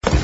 This is a video of the Thorley Nurserygoods Co. v. Thorley Industries LLC. Wonderland Nurserygoods Co. v. Thorley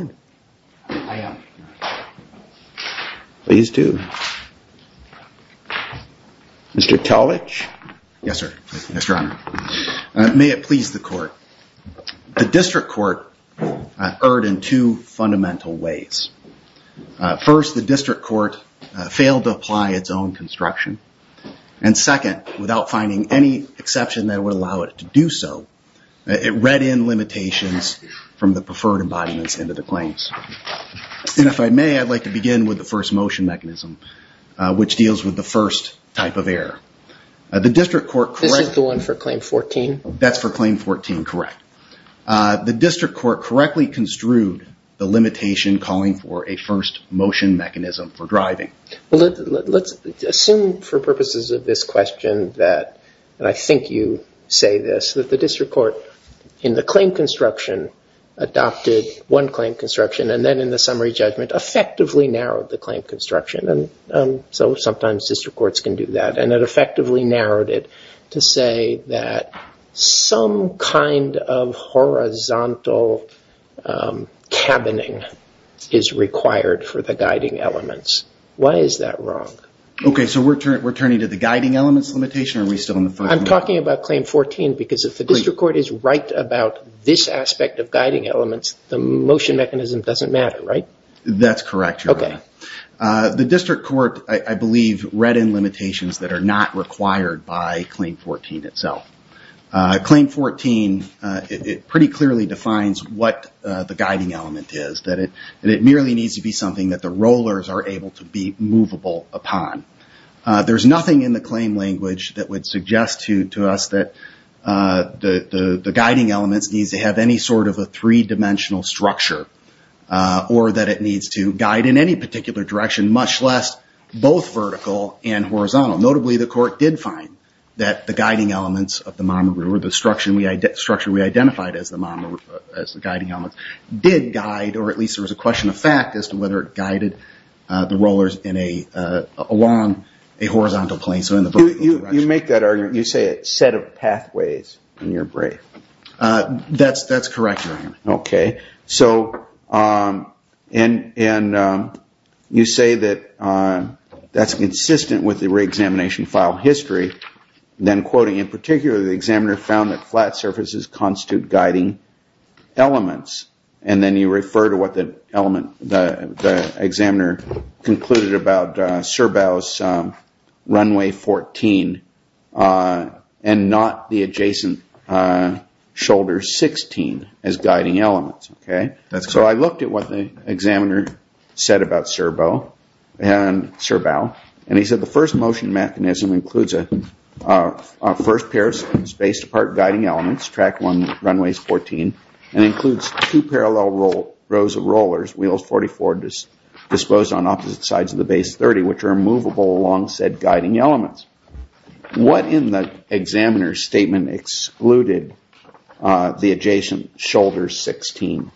Industries LLC Please do. Mr. Talich? Yes, sir. Yes, Your Honor. May it please the court. The district court erred in two fundamental ways. First, the district court failed to apply its own construction. And second, without finding any exception that would allow it to do so, it read in limitations from the preferred embodiments into the claims. And if I may, I'd like to begin with the first motion mechanism, which deals with the first type of error. This is the one for Claim 14? That's for Claim 14, correct. The district court correctly construed the limitation calling for a first motion mechanism for driving. Let's assume for purposes of this question that, and I think you say this, that the district court in the claim construction adopted one claim construction and then in the summary judgment effectively narrowed the claim construction. So sometimes district courts can do that. And it effectively narrowed it to say that some kind of horizontal cabining is required for the guiding elements. Why is that wrong? Okay, so we're turning to the guiding elements limitation, or are we still on the first motion? I'm talking about Claim 14 because if the district court is right about this aspect of guiding elements, the motion mechanism doesn't matter, right? That's correct, Your Honor. The district court, I believe, read in limitations that are not required by Claim 14 itself. Claim 14, it pretty clearly defines what the guiding element is, that it merely needs to be something that the rollers are able to be movable upon. There's nothing in the claim language that would suggest to us that the guiding elements needs to have any sort of a three-dimensional structure or that it needs to guide in any particular direction, much less both vertical and horizontal. Notably, the court did find that the guiding elements of the monomer, or the structure we identified as the guiding elements, did guide, or at least there was a question of fact as to whether it guided the rollers along a horizontal plane, so in the vertical direction. You make that argument, you say a set of pathways in your brief. That's correct, Your Honor. Okay, and you say that that's consistent with the re-examination file history, then quoting, in particular, the examiner found that flat surfaces constitute guiding elements, and then you refer to what the examiner concluded about Serbo's Runway 14 and not the adjacent Shoulder 16 as guiding elements. So I looked at what the examiner said about Serbo and Serbo, and he said the first motion mechanism includes a first pair of spaced-apart guiding elements, Track 1, Runways 14, and includes two parallel rows of rollers, Wheels 44 disposed on opposite sides of the Base 30, which are movable along said guiding elements. What in the examiner's statement excluded the adjacent Shoulders 16?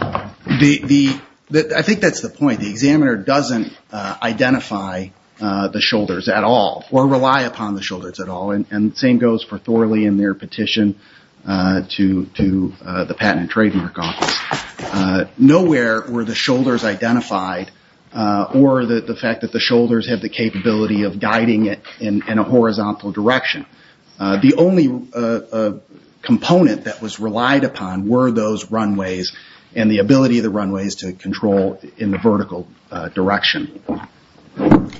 I think that's the point. The examiner doesn't identify the Shoulders at all or rely upon the Shoulders at all, and the same goes for Thorley in their petition to the Patent and Trademark Office. Nowhere were the Shoulders identified, or the fact that the Shoulders have the capability of guiding it in a horizontal direction. The only component that was relied upon were those runways and the ability of the runways to control in the vertical direction.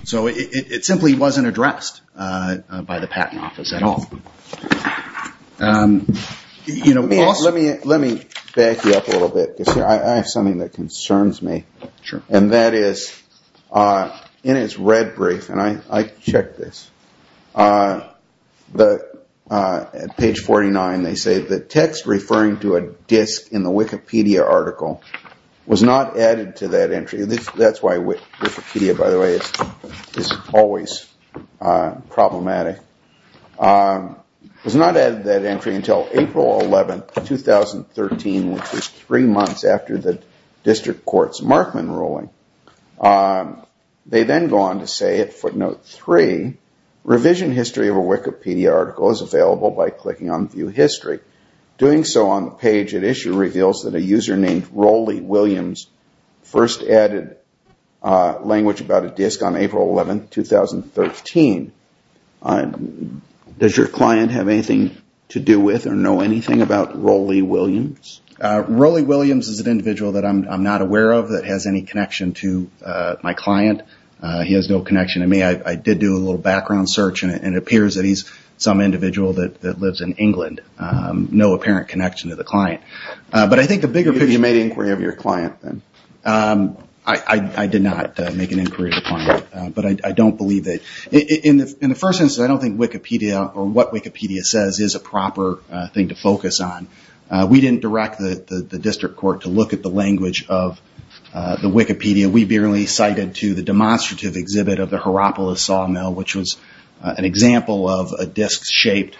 So it simply wasn't addressed by the Patent Office at all. Let me back you up a little bit, because I have something that concerns me. And that is, in its red brief, and I checked this, at page 49 they say the text referring to a disk in the Wikipedia article was not added to that entry. That's why Wikipedia, by the way, is always problematic. It was not added to that entry until April 11, 2013, which was three months after the District Court's Markman ruling. They then go on to say at footnote 3, revision history of a Wikipedia article is available by clicking on View History. Doing so on the page at issue reveals that a user named Roley Williams first added language about a disk on April 11, 2013. Does your client have anything to do with or know anything about Roley Williams? Roley Williams is an individual that I'm not aware of that has any connection to my client. He has no connection to me. I did do a little background search, and it appears that he's some individual that lives in England. No apparent connection to the client. But I think the bigger picture- Have you made an inquiry of your client? I did not make an inquiry of the client, but I don't believe that. In the first instance, I don't think Wikipedia or what Wikipedia says is a proper thing to focus on. We didn't direct the District Court to look at the language of the Wikipedia. We merely cited to the demonstrative exhibit of the Hierapolis sawmill, which was an example of a disk-shaped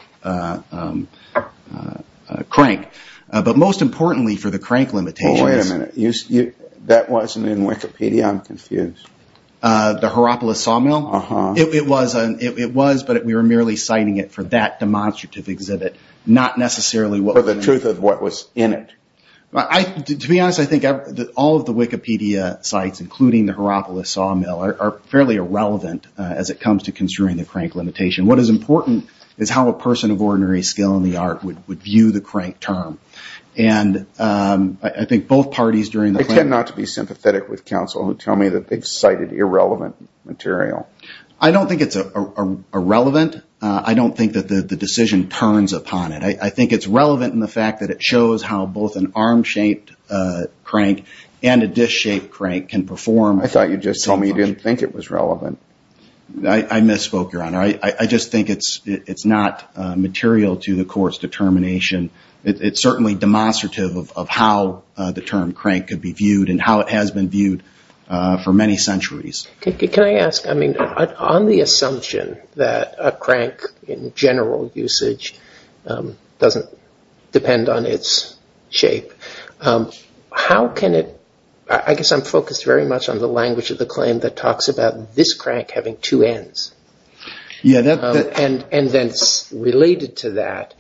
crank. But most importantly for the crank limitations- Wait a minute. That wasn't in Wikipedia? I'm confused. The Hierapolis sawmill? Uh-huh. It was, but we were merely citing it for that demonstrative exhibit, not necessarily what- For the truth of what was in it. To be honest, I think that all of the Wikipedia sites, including the Hierapolis sawmill, are fairly irrelevant as it comes to construing the crank limitation. What is important is how a person of ordinary skill in the art would view the crank term. And I think both parties during the- They tend not to be sympathetic with counsel who tell me that they've cited irrelevant material. I don't think it's irrelevant. I don't think that the decision turns upon it. I think it's relevant in the fact that it shows how both an arm-shaped crank and a disk-shaped crank can perform- I thought you just told me you didn't think it was relevant. I misspoke, Your Honor. I just think it's not material to the court's determination. It's certainly demonstrative of how the term crank could be viewed and how it has been viewed for many centuries. Can I ask? On the assumption that a crank in general usage doesn't depend on its shape, how can it- I guess I'm focused very much on the language of the claim that talks about this crank having two ends. And then related to that,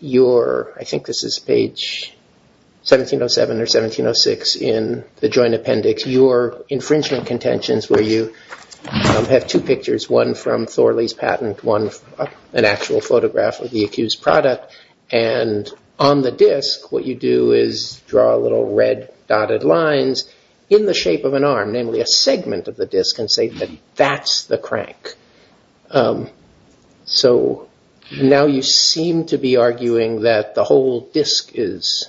I think this is page 1707 or 1706 in the Joint Appendix, your infringement contentions where you have two pictures, one from Thorley's patent, one an actual photograph of the accused product, and on the disk what you do is draw little red dotted lines in the shape of an arm, namely a segment of the disk and say that that's the crank. So now you seem to be arguing that the whole disk is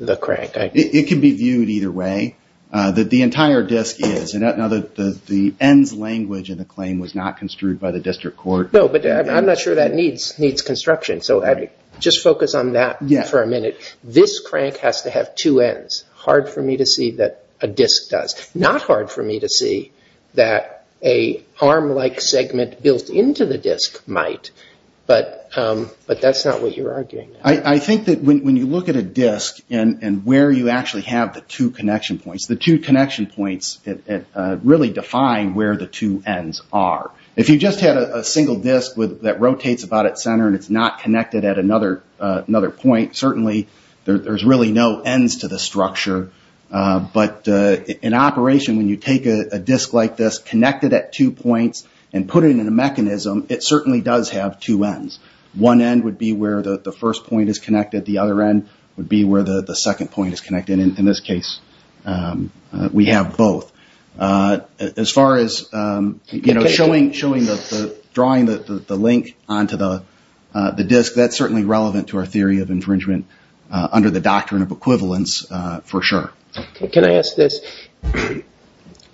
the crank. It can be viewed either way, that the entire disk is. Now the ends language in the claim was not construed by the district court. No, but I'm not sure that needs construction. So just focus on that for a minute. This crank has to have two ends. Hard for me to see that a disk does. Not hard for me to see that a arm-like segment built into the disk might, but that's not what you're arguing. I think that when you look at a disk and where you actually have the two connection points, the two connection points really define where the two ends are. If you just had a single disk that rotates about its center and it's not connected at another point, certainly there's really no ends to the structure, but in operation when you take a disk like this, connect it at two points, and put it in a mechanism, it certainly does have two ends. One end would be where the first point is connected. The other end would be where the second point is connected. In this case, we have both. As far as drawing the link onto the disk, that's certainly relevant to our theory of infringement under the doctrine of equivalence for sure. Can I ask this?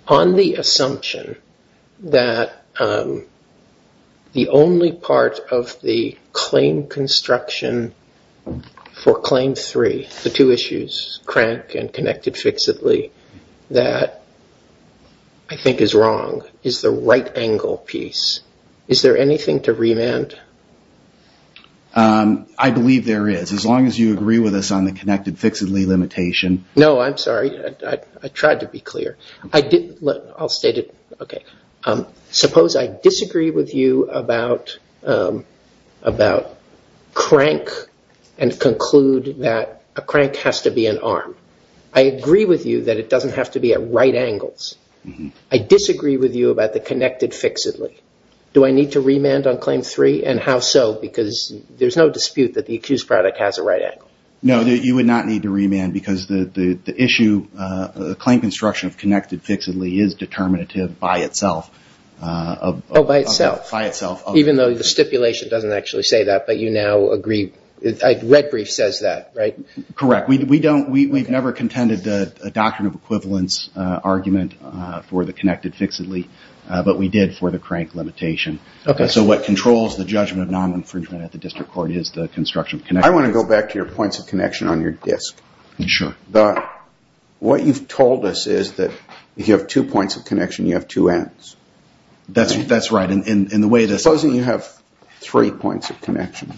On the assumption that the only part of the claim construction for claim three, the two issues, crank and connected fixedly, that I think is wrong is the right angle piece. Is there anything to remand? I believe there is, as long as you agree with us on the connected fixedly limitation. No, I'm sorry. I tried to be clear. I'll state it. Suppose I disagree with you about crank and conclude that a crank has to be an arm. I agree with you that it doesn't have to be at right angles. I disagree with you about the connected fixedly. Do I need to remand on claim three, and how so? Because there's no dispute that the accused product has a right angle. No, you would not need to remand because the issue, the claim construction of connected fixedly is determinative by itself. By itself? By itself. Even though the stipulation doesn't actually say that, but you now agree. The red brief says that, right? Correct. We've never contended the doctrine of equivalence argument for the connected fixedly, but we did for the crank limitation. So what controls the judgment of non-infringement at the district court is the construction of connected fixedly. I want to go back to your points of connection on your disk. Sure. What you've told us is that if you have two points of connection, you have two ends. That's right. Suppose that you have three points of connection.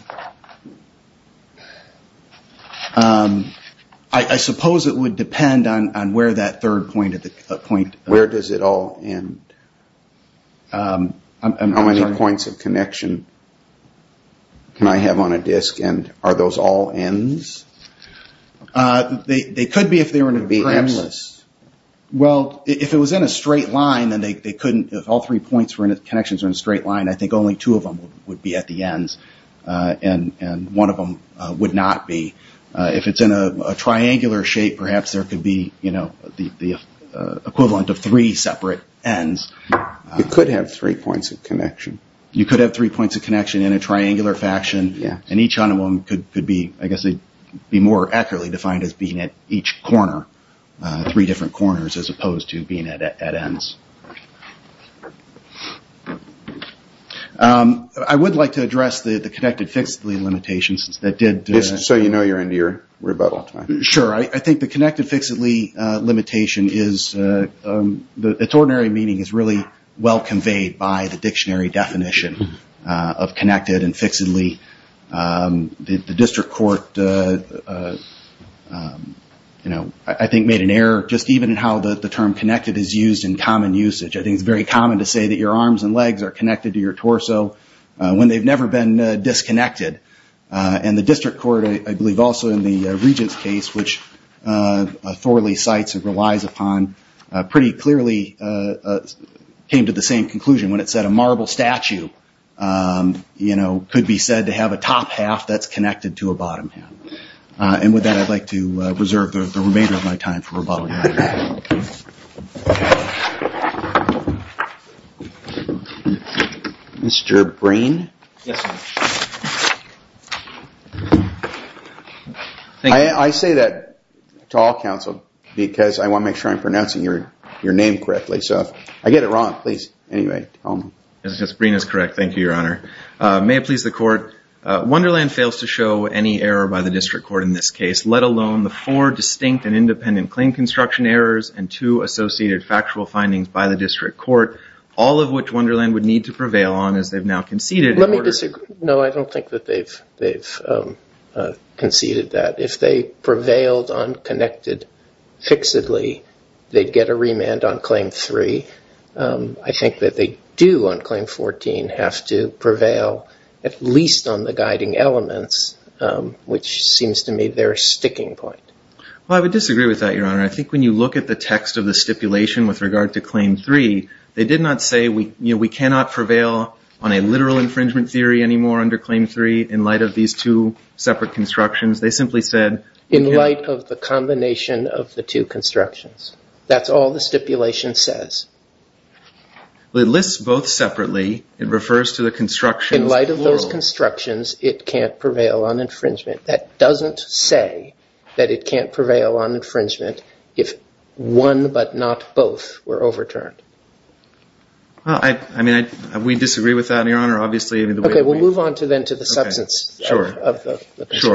I suppose it would depend on where that third point of the point of connection is. Where does it all end? I'm sorry? How many points of connection can I have on a disk, and are those all ends? They could be if they were in a premise. Well, if it was in a straight line, then they couldn't, if all three points were in connections in a straight line, I think only two of them would be at the ends, and one of them would not be. If it's in a triangular shape, perhaps there could be the equivalent of three separate ends. You could have three points of connection. You could have three points of connection in a triangular fashion, and each one of them could be more accurately defined as being at each corner, three different corners as opposed to being at ends. I would like to address the connected fixedly limitations that did... Just so you know you're in your rebuttal time. Sure. I think the connected fixedly limitation is... Its ordinary meaning is really well conveyed by the dictionary definition of connected and fixedly. The district court, I think, made an error, just even in how the term connected is used in common usage. I think it's very common to say that your arms and legs are connected to your torso when they've never been disconnected. The district court, I believe also in the regent's case, which Thorley cites and relies upon, pretty clearly came to the same conclusion when it said a marble statue could be said to have a top half that's connected to a bottom half. With that, I'd like to reserve the remainder of my time for rebuttal. Mr. Brain? Yes, Your Honor. I say that to all counsel because I want to make sure I'm pronouncing your name correctly. I get it wrong. Please. Anyway. Mr. Brain is correct. Thank you, Your Honor. May it please the court. Wonderland fails to show any error by the district court in this case, let alone the four distinct and independent claim construction errors and two associated factual findings by the district court, all of which Wonderland would need to prevail on as they've now conceded. Let me disagree. No, I don't think that they've conceded that. If they prevailed on connected fixedly, they'd get a remand on claim three. I think that they do on claim 14 have to prevail at least on the guiding elements, which seems to me their sticking point. Well, I would disagree with that, Your Honor. I think when you look at the text of the stipulation with regard to claim three, they did not say we cannot prevail on a literal infringement theory anymore under claim three in light of these two separate constructions. They simply said in light of the combination of the two constructions. That's all the stipulation says. It lists both separately. It refers to the construction. In light of those constructions, it can't prevail on infringement. That doesn't say that it can't prevail on infringement if one but not both were overturned. I mean, we disagree with that, Your Honor, obviously. Okay. We'll move on then to the substance. Sure.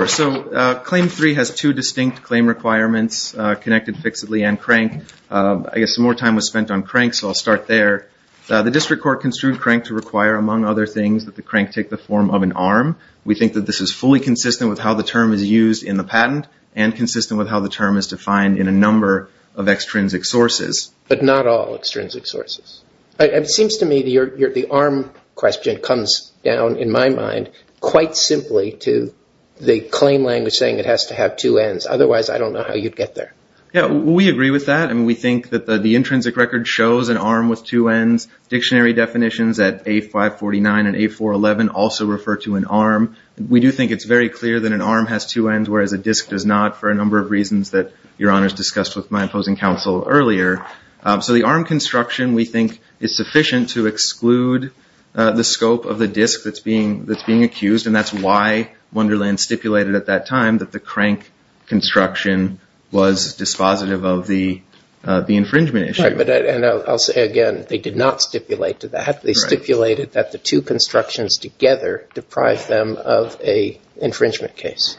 So claim three has two distinct claim requirements, connected fixedly and crank. I guess more time was spent on crank, so I'll start there. The district court construed crank to require, among other things, that the crank take the form of an arm. We think that this is fully consistent with how the term is used in the patent and consistent with how the term is defined in a number of extrinsic sources. But not all extrinsic sources. It seems to me the arm question comes down, in my mind, quite simply to the claim language saying it has to have two ends. Otherwise, I don't know how you'd get there. Yeah, we agree with that, and we think that the intrinsic record shows an arm with two ends. Dictionary definitions at A549 and A411 also refer to an arm. We do think it's very clear that an arm has two ends, whereas a disc does not, for a number of reasons that Your Honor has discussed with my opposing counsel earlier. So the arm construction, we think, is sufficient to exclude the scope of the disc that's being accused, and that's why Wonderland stipulated at that time that the crank construction was dispositive of the infringement issue. Right, and I'll say again, they did not stipulate to that. They stipulated that the two constructions together deprived them of an infringement case.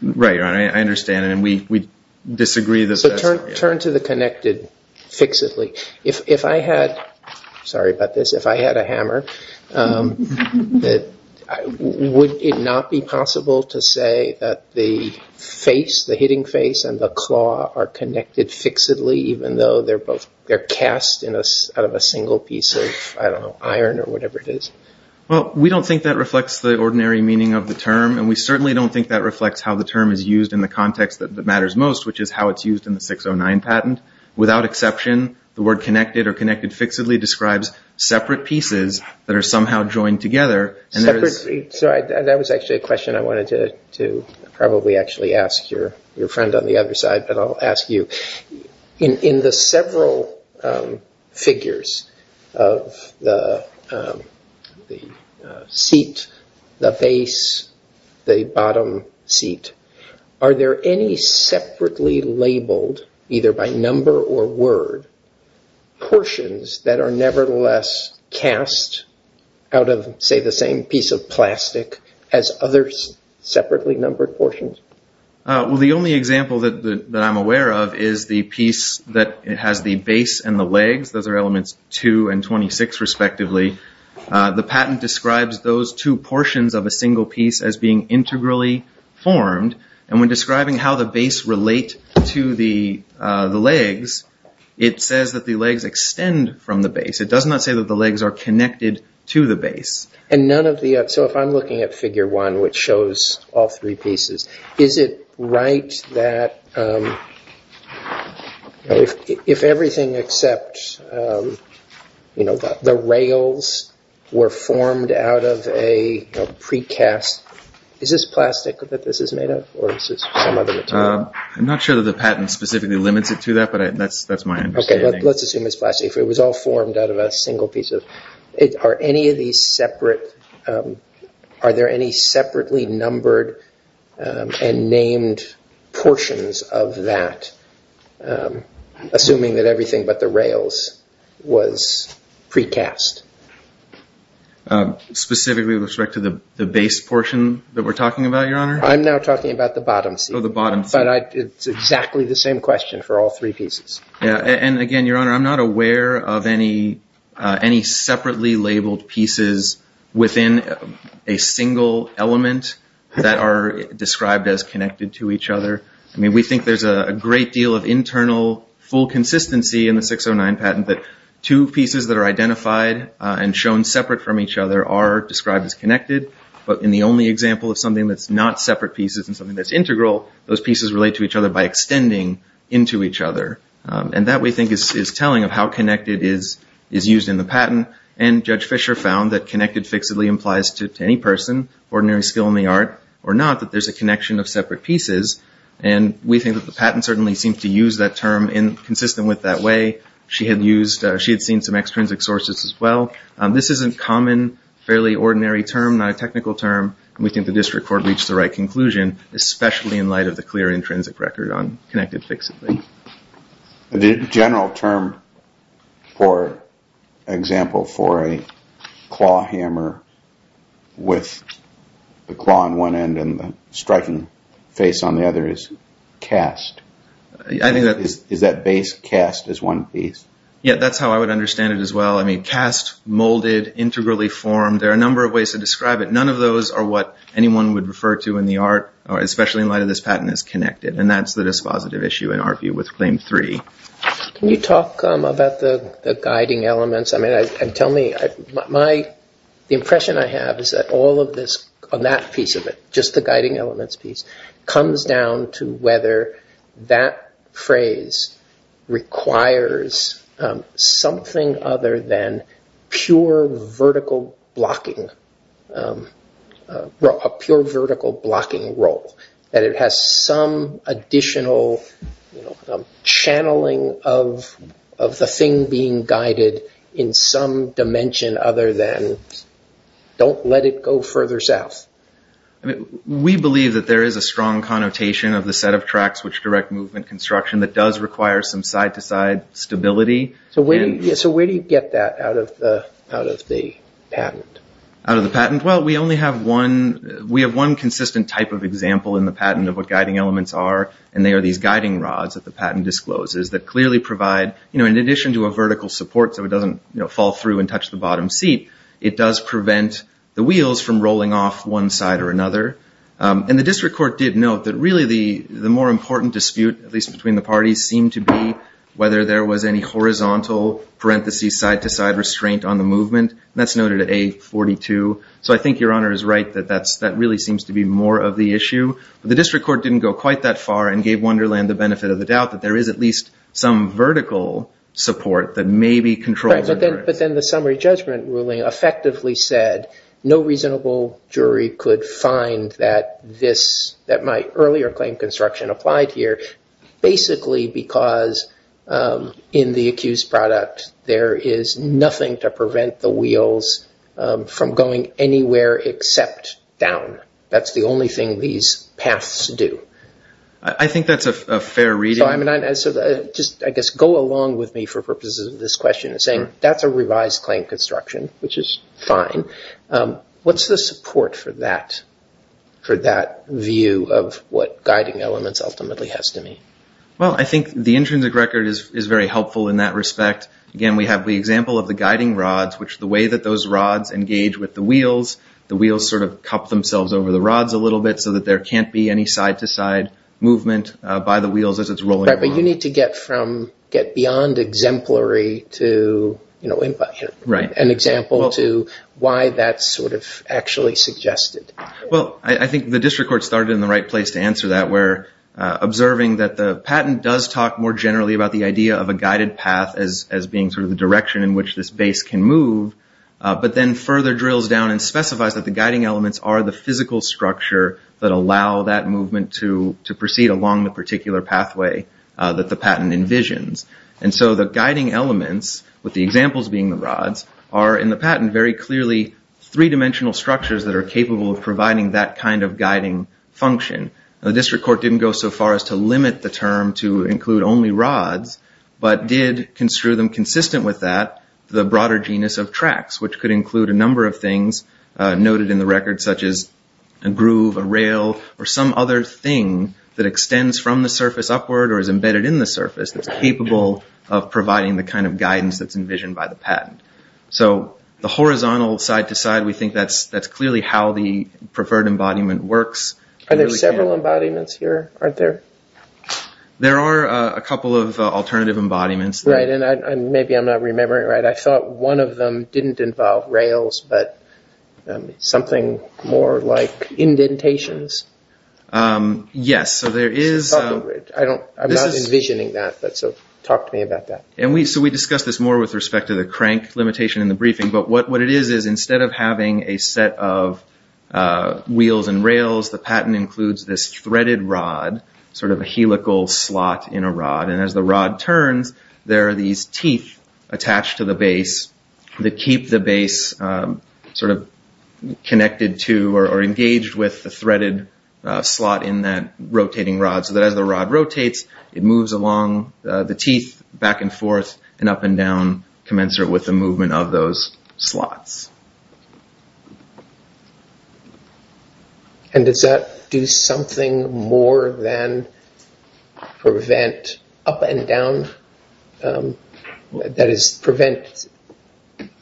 Right, Your Honor, I understand, and we disagree. So turn to the connected fixedly. If I had a hammer, would it not be possible to say that the face, the hitting face, and the claw are connected fixedly even though they're cast out of a single piece of, I don't know, iron or whatever it is? Well, we don't think that reflects the ordinary meaning of the term, and we certainly don't think that reflects how the term is used in the context that matters most, which is how it's used in the 609 patent. Without exception, the word connected or connected fixedly describes separate pieces that are somehow joined together. That was actually a question I wanted to probably actually ask your friend on the other side, but I'll ask you. In the several figures of the seat, the face, the bottom seat, are there any separately labeled, either by number or word, portions that are nevertheless cast out of, say, the same piece of plastic as other separately numbered portions? Well, the only example that I'm aware of is the piece that has the base and the legs. Those are elements 2 and 26, respectively. The patent describes those two portions of a single piece as being integrally formed, and when describing how the base relate to the legs, it says that the legs extend from the base. It does not say that the legs are connected to the base. So if I'm looking at Figure 1, which shows all three pieces, is it right that if everything except the rails were formed out of a precast, is this plastic that this is made of, or is this some other material? I'm not sure that the patent specifically limits it to that, but that's my understanding. Okay, let's assume it's plastic. If it was all formed out of a single piece, are there any separately numbered and named portions of that, assuming that everything but the rails was precast? Specifically with respect to the base portion that we're talking about, Your Honor? I'm now talking about the bottom seat. Oh, the bottom seat. But it's exactly the same question for all three pieces. Yeah, and again, Your Honor, I'm not aware of any separately labeled pieces within a single element that are described as connected to each other. I mean, we think there's a great deal of internal full consistency in the 609 patent that two pieces that are identified and shown separate from each other are described as connected, but in the only example of something that's not separate pieces and something that's integral, those pieces relate to each other by extending into each other. And that, we think, is telling of how connected is used in the patent. And Judge Fisher found that connected fixedly implies to any person, ordinary skill in the art or not, that there's a connection of separate pieces. And we think that the patent certainly seems to use that term in consistent with that way. She had seen some extrinsic sources as well. This isn't common, fairly ordinary term, not a technical term, and we think the district court reached the right conclusion, especially in light of the clear intrinsic record on connected fixedly. The general term or example for a claw hammer with the claw on one end and the striking face on the other is cast. Is that base cast as one piece? Yeah, that's how I would understand it as well. I mean, cast, molded, integrally formed, there are a number of ways to describe it. None of those are what anyone would refer to in the art, especially in light of this patent as connected. And that's the dispositive issue in our view with Claim 3. Can you talk about the guiding elements? I mean, tell me, my impression I have is that all of this, on that piece of it, comes down to whether that phrase requires something other than pure vertical blocking, a pure vertical blocking role, that it has some additional channeling of the thing being guided in some dimension other than don't let it go further south. We believe that there is a strong connotation of the set of tracks which direct movement construction that does require some side-to-side stability. So where do you get that out of the patent? Out of the patent? Well, we have one consistent type of example in the patent of what guiding elements are, and they are these guiding rods that the patent discloses that clearly provide, in addition to a vertical support so it doesn't fall through and touch the bottom seat, it does prevent the wheels from rolling off one side or another. And the district court did note that really the more important dispute, at least between the parties, seemed to be whether there was any horizontal parentheses side-to-side restraint on the movement. That's noted at A42. So I think Your Honor is right that that really seems to be more of the issue. But the district court didn't go quite that far and gave Wonderland the benefit of the doubt that there is at least some vertical support that maybe controls the movement. But then the summary judgment ruling effectively said no reasonable jury could find that this, that my earlier claim construction applied here basically because in the accused product there is nothing to prevent the wheels from going anywhere except down. That's the only thing these paths do. I think that's a fair reading. So just I guess go along with me for purposes of this question in saying that's a revised claim construction, which is fine. What's the support for that view of what guiding elements ultimately has to mean? Well, I think the intrinsic record is very helpful in that respect. Again, we have the example of the guiding rods, which the way that those rods engage with the wheels, the wheels sort of cup themselves over the rods a little bit so that there can't be any side-to-side movement by the wheels as it's rolling. Right, but you need to get beyond exemplary to an example to why that's sort of actually suggested. Well, I think the district court started in the right place to answer that, where observing that the patent does talk more generally about the idea of a guided path as being sort of the direction in which this base can move, but then further drills down and specifies that the guiding elements are the physical structure that allow that movement to proceed along the particular pathway that the patent envisions. And so the guiding elements, with the examples being the rods, are in the patent very clearly three-dimensional structures that are capable of providing that kind of guiding function. The district court didn't go so far as to limit the term to include only rods, but did construe them consistent with that, the broader genus of tracks, which could include a number of things noted in the record, such as a groove, a rail, or some other thing that extends from the surface upward or is embedded in the surface that's capable of providing the kind of guidance that's envisioned by the patent. So the horizontal side-to-side, we think that's clearly how the preferred embodiment works. Are there several embodiments here? Aren't there? There are a couple of alternative embodiments. Right, and maybe I'm not remembering right. I thought one of them didn't involve rails, but something more like indentations? Yes, so there is... I'm not envisioning that, so talk to me about that. So we discussed this more with respect to the crank limitation in the briefing, but what it is is instead of having a set of wheels and rails, the patent includes this threaded rod, sort of a helical slot in a rod, and as the rod turns, there are these teeth attached to the base that keep the base sort of connected to or engaged with the threaded slot in that rotating rod so that as the rod rotates, it moves along the teeth back and forth and up and down, commensurate with the movement of those slots. And does that do something more than prevent up and down? That is, prevent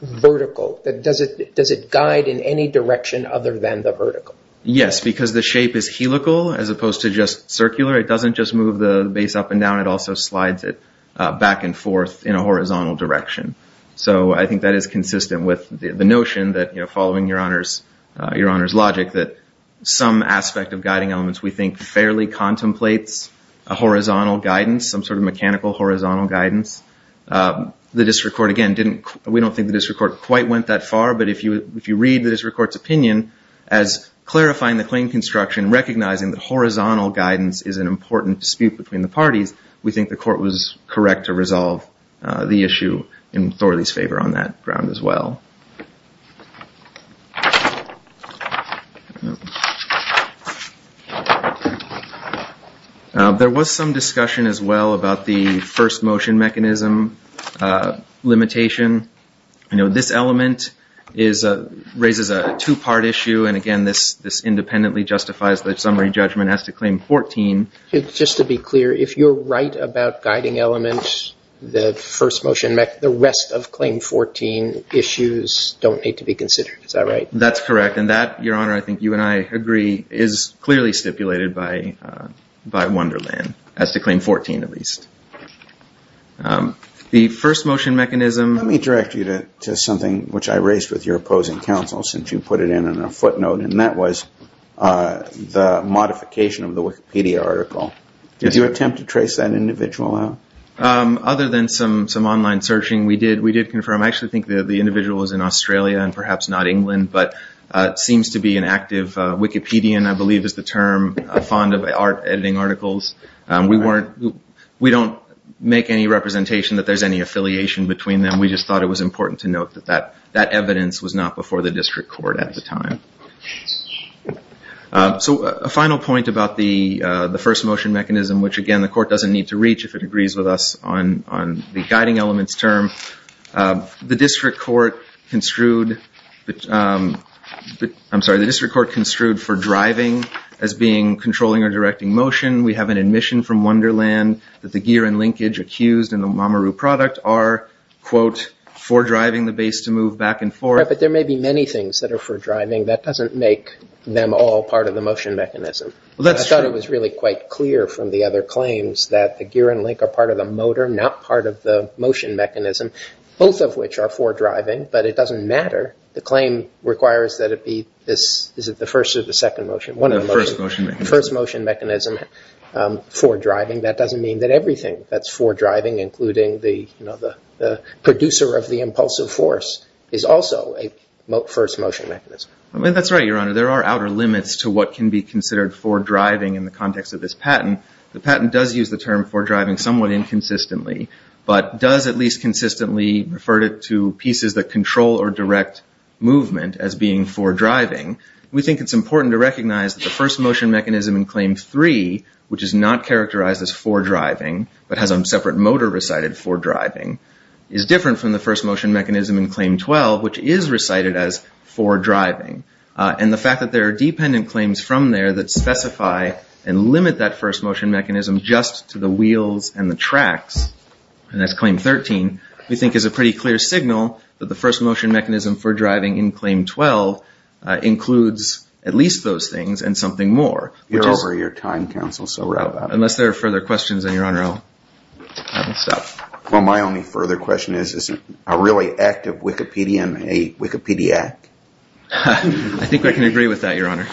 vertical? Does it guide in any direction other than the vertical? Yes, because the shape is helical as opposed to just circular. It doesn't just move the base up and down. It also slides it back and forth in a horizontal direction. So I think that is consistent with the notion that following Your Honor's logic that some aspect of guiding elements we think fairly contemplates a horizontal guidance, some sort of mechanical horizontal guidance. The district court, again, we don't think the district court quite went that far, but if you read the district court's opinion as clarifying the claim construction, we think the court was correct to resolve the issue in Thorley's favor on that ground as well. There was some discussion as well about the first motion mechanism limitation. You know, this element raises a two-part issue, and again this independently justifies the summary judgment as to claim 14. Just to be clear, if you're right about guiding elements, the rest of claim 14 issues don't need to be considered. Is that right? That's correct, and that, Your Honor, I think you and I agree, is clearly stipulated by Wonderland as to claim 14 at least. The first motion mechanism- Let me direct you to something which I raised with your opposing counsel since you put it in on a footnote, and that was the modification of the Wikipedia article. Did you attempt to trace that individual out? Other than some online searching, we did confirm. I actually think the individual was in Australia and perhaps not England, but seems to be an active Wikipedian, I believe is the term, fond of editing articles. We don't make any representation that there's any affiliation between them. We just thought it was important to note that that evidence was not before the district court at the time. So a final point about the first motion mechanism, which again the court doesn't need to reach if it agrees with us on the guiding elements term. The district court construed for driving as being controlling or directing motion. We have an admission from Wonderland that the gear and linkage accused in the Mamoru product are, quote, for driving the base to move back and forth. Right, but there may be many things that are for driving. That doesn't make them all part of the motion mechanism. Well, that's true. I thought it was really quite clear from the other claims that the gear and link are part of the motor, not part of the motion mechanism, both of which are for driving, but it doesn't matter. The claim requires that it be this, is it the first or the second motion? The first motion mechanism. The first motion mechanism for driving. That doesn't mean that everything that's for driving, including the producer of the impulsive force, is also a first motion mechanism. That's right, Your Honor. There are outer limits to what can be considered for driving in the context of this patent. The patent does use the term for driving somewhat inconsistently, but does at least consistently refer to pieces that control or direct movement as being for driving. We think it's important to recognize that the first motion mechanism in Claim 3, which is not characterized as for driving, but has a separate motor recited for driving, is different from the first motion mechanism in Claim 12, which is recited as for driving. And the fact that there are dependent claims from there that specify and limit that first motion mechanism just to the wheels and the tracks, and that's Claim 13, we think is a pretty clear signal that the first motion mechanism for driving in Claim 12 includes at least those things and something more. You're over your time, counsel, so route out. Unless there are further questions, then, Your Honor, I will stop. Well, my only further question is, is a really active Wikipedian a Wikipediac? I think I can agree with that, Your Honor.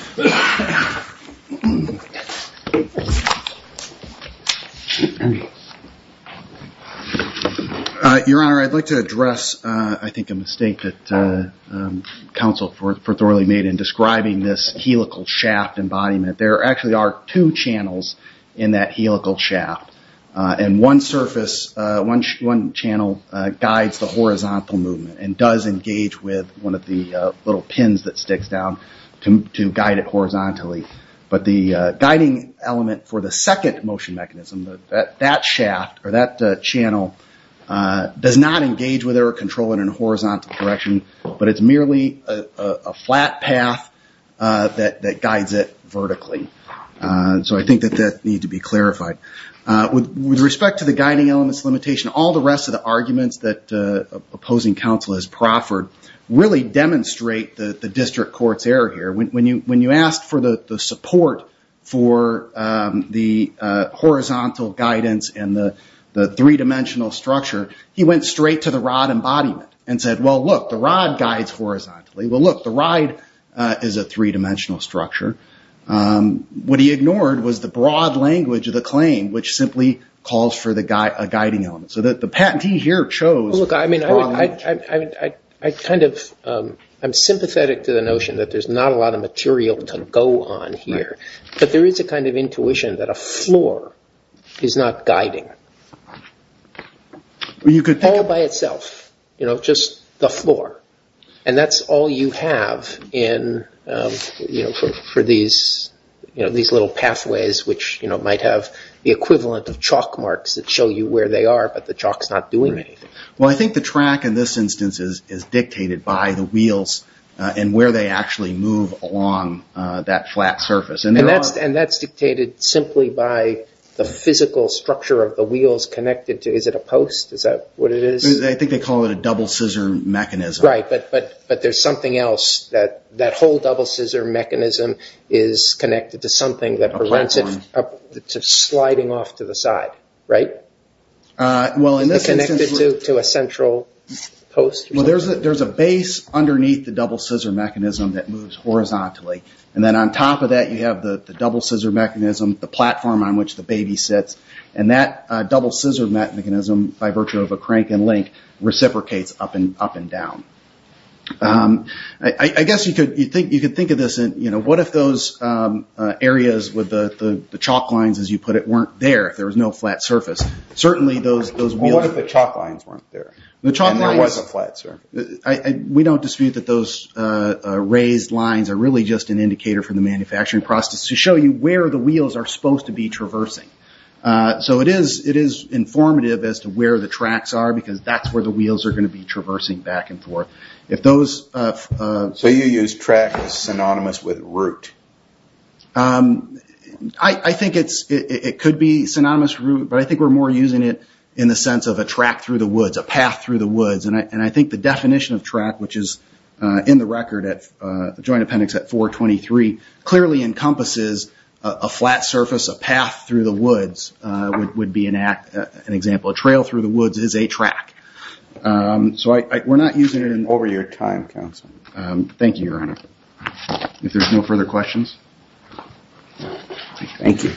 Your Honor, I'd like to address, I think, a mistake that counsel thoroughly made in describing this helical shaft embodiment. There actually are two channels in that helical shaft, and one channel guides the horizontal movement and does engage with one of the little pins that sticks down to guide it horizontally. But the guiding element for the second motion mechanism, that shaft or that channel, does not engage with or control it in a horizontal direction, but it's merely a flat path that guides it vertically. So I think that that needs to be clarified. With respect to the guiding elements limitation, all the rest of the arguments that opposing counsel has proffered really demonstrate the district court's error here. When you ask for the support for the horizontal guidance and the three-dimensional structure, he went straight to the rod embodiment and said, well, look, the rod guides horizontally. Well, look, the rod is a three-dimensional structure. What he ignored was the broad language of the claim, which simply calls for a guiding element. So the patentee here chose the rod element. I'm sympathetic to the notion that there's not a lot of material to go on here, but there is a kind of intuition that a floor is not guiding, all by itself, just the floor. And that's all you have for these little pathways, which might have the equivalent of chalk marks that show you where they are, but the chalk's not doing anything. Well, I think the track in this instance is dictated by the wheels and where they actually move along that flat surface. And that's dictated simply by the physical structure of the wheels connected to it. Is it a post? Is that what it is? I think they call it a double-scissor mechanism. Right, but there's something else. That whole double-scissor mechanism is connected to something that prevents it from sliding off to the side, right? Well, in this instance, there's a base underneath the double-scissor mechanism that moves horizontally, and then on top of that you have the double-scissor mechanism, the platform on which the baby sits, and that double-scissor mechanism, by virtue of a crank and link, reciprocates up and down. I guess you could think of this, what if those areas with the chalk lines, as you put it, weren't there, if there was no flat surface? Well, what if the chalk lines weren't there, and there was a flat surface? We don't dispute that those raised lines are really just an indicator for the manufacturing process to show you where the wheels are supposed to be traversing. It is informative as to where the tracks are, because that's where the wheels are going to be traversing back and forth. So you use track as synonymous with route? I think it could be synonymous with route, but I think we're more using it in the sense of a track through the woods, a path through the woods. And I think the definition of track, which is in the record at the Joint Appendix at 423, clearly encompasses a flat surface, a path through the woods, would be an example. A trail through the woods is a track. So we're not using it in over your time, counsel. Thank you, Your Honor. If there's no further questions. Thank you.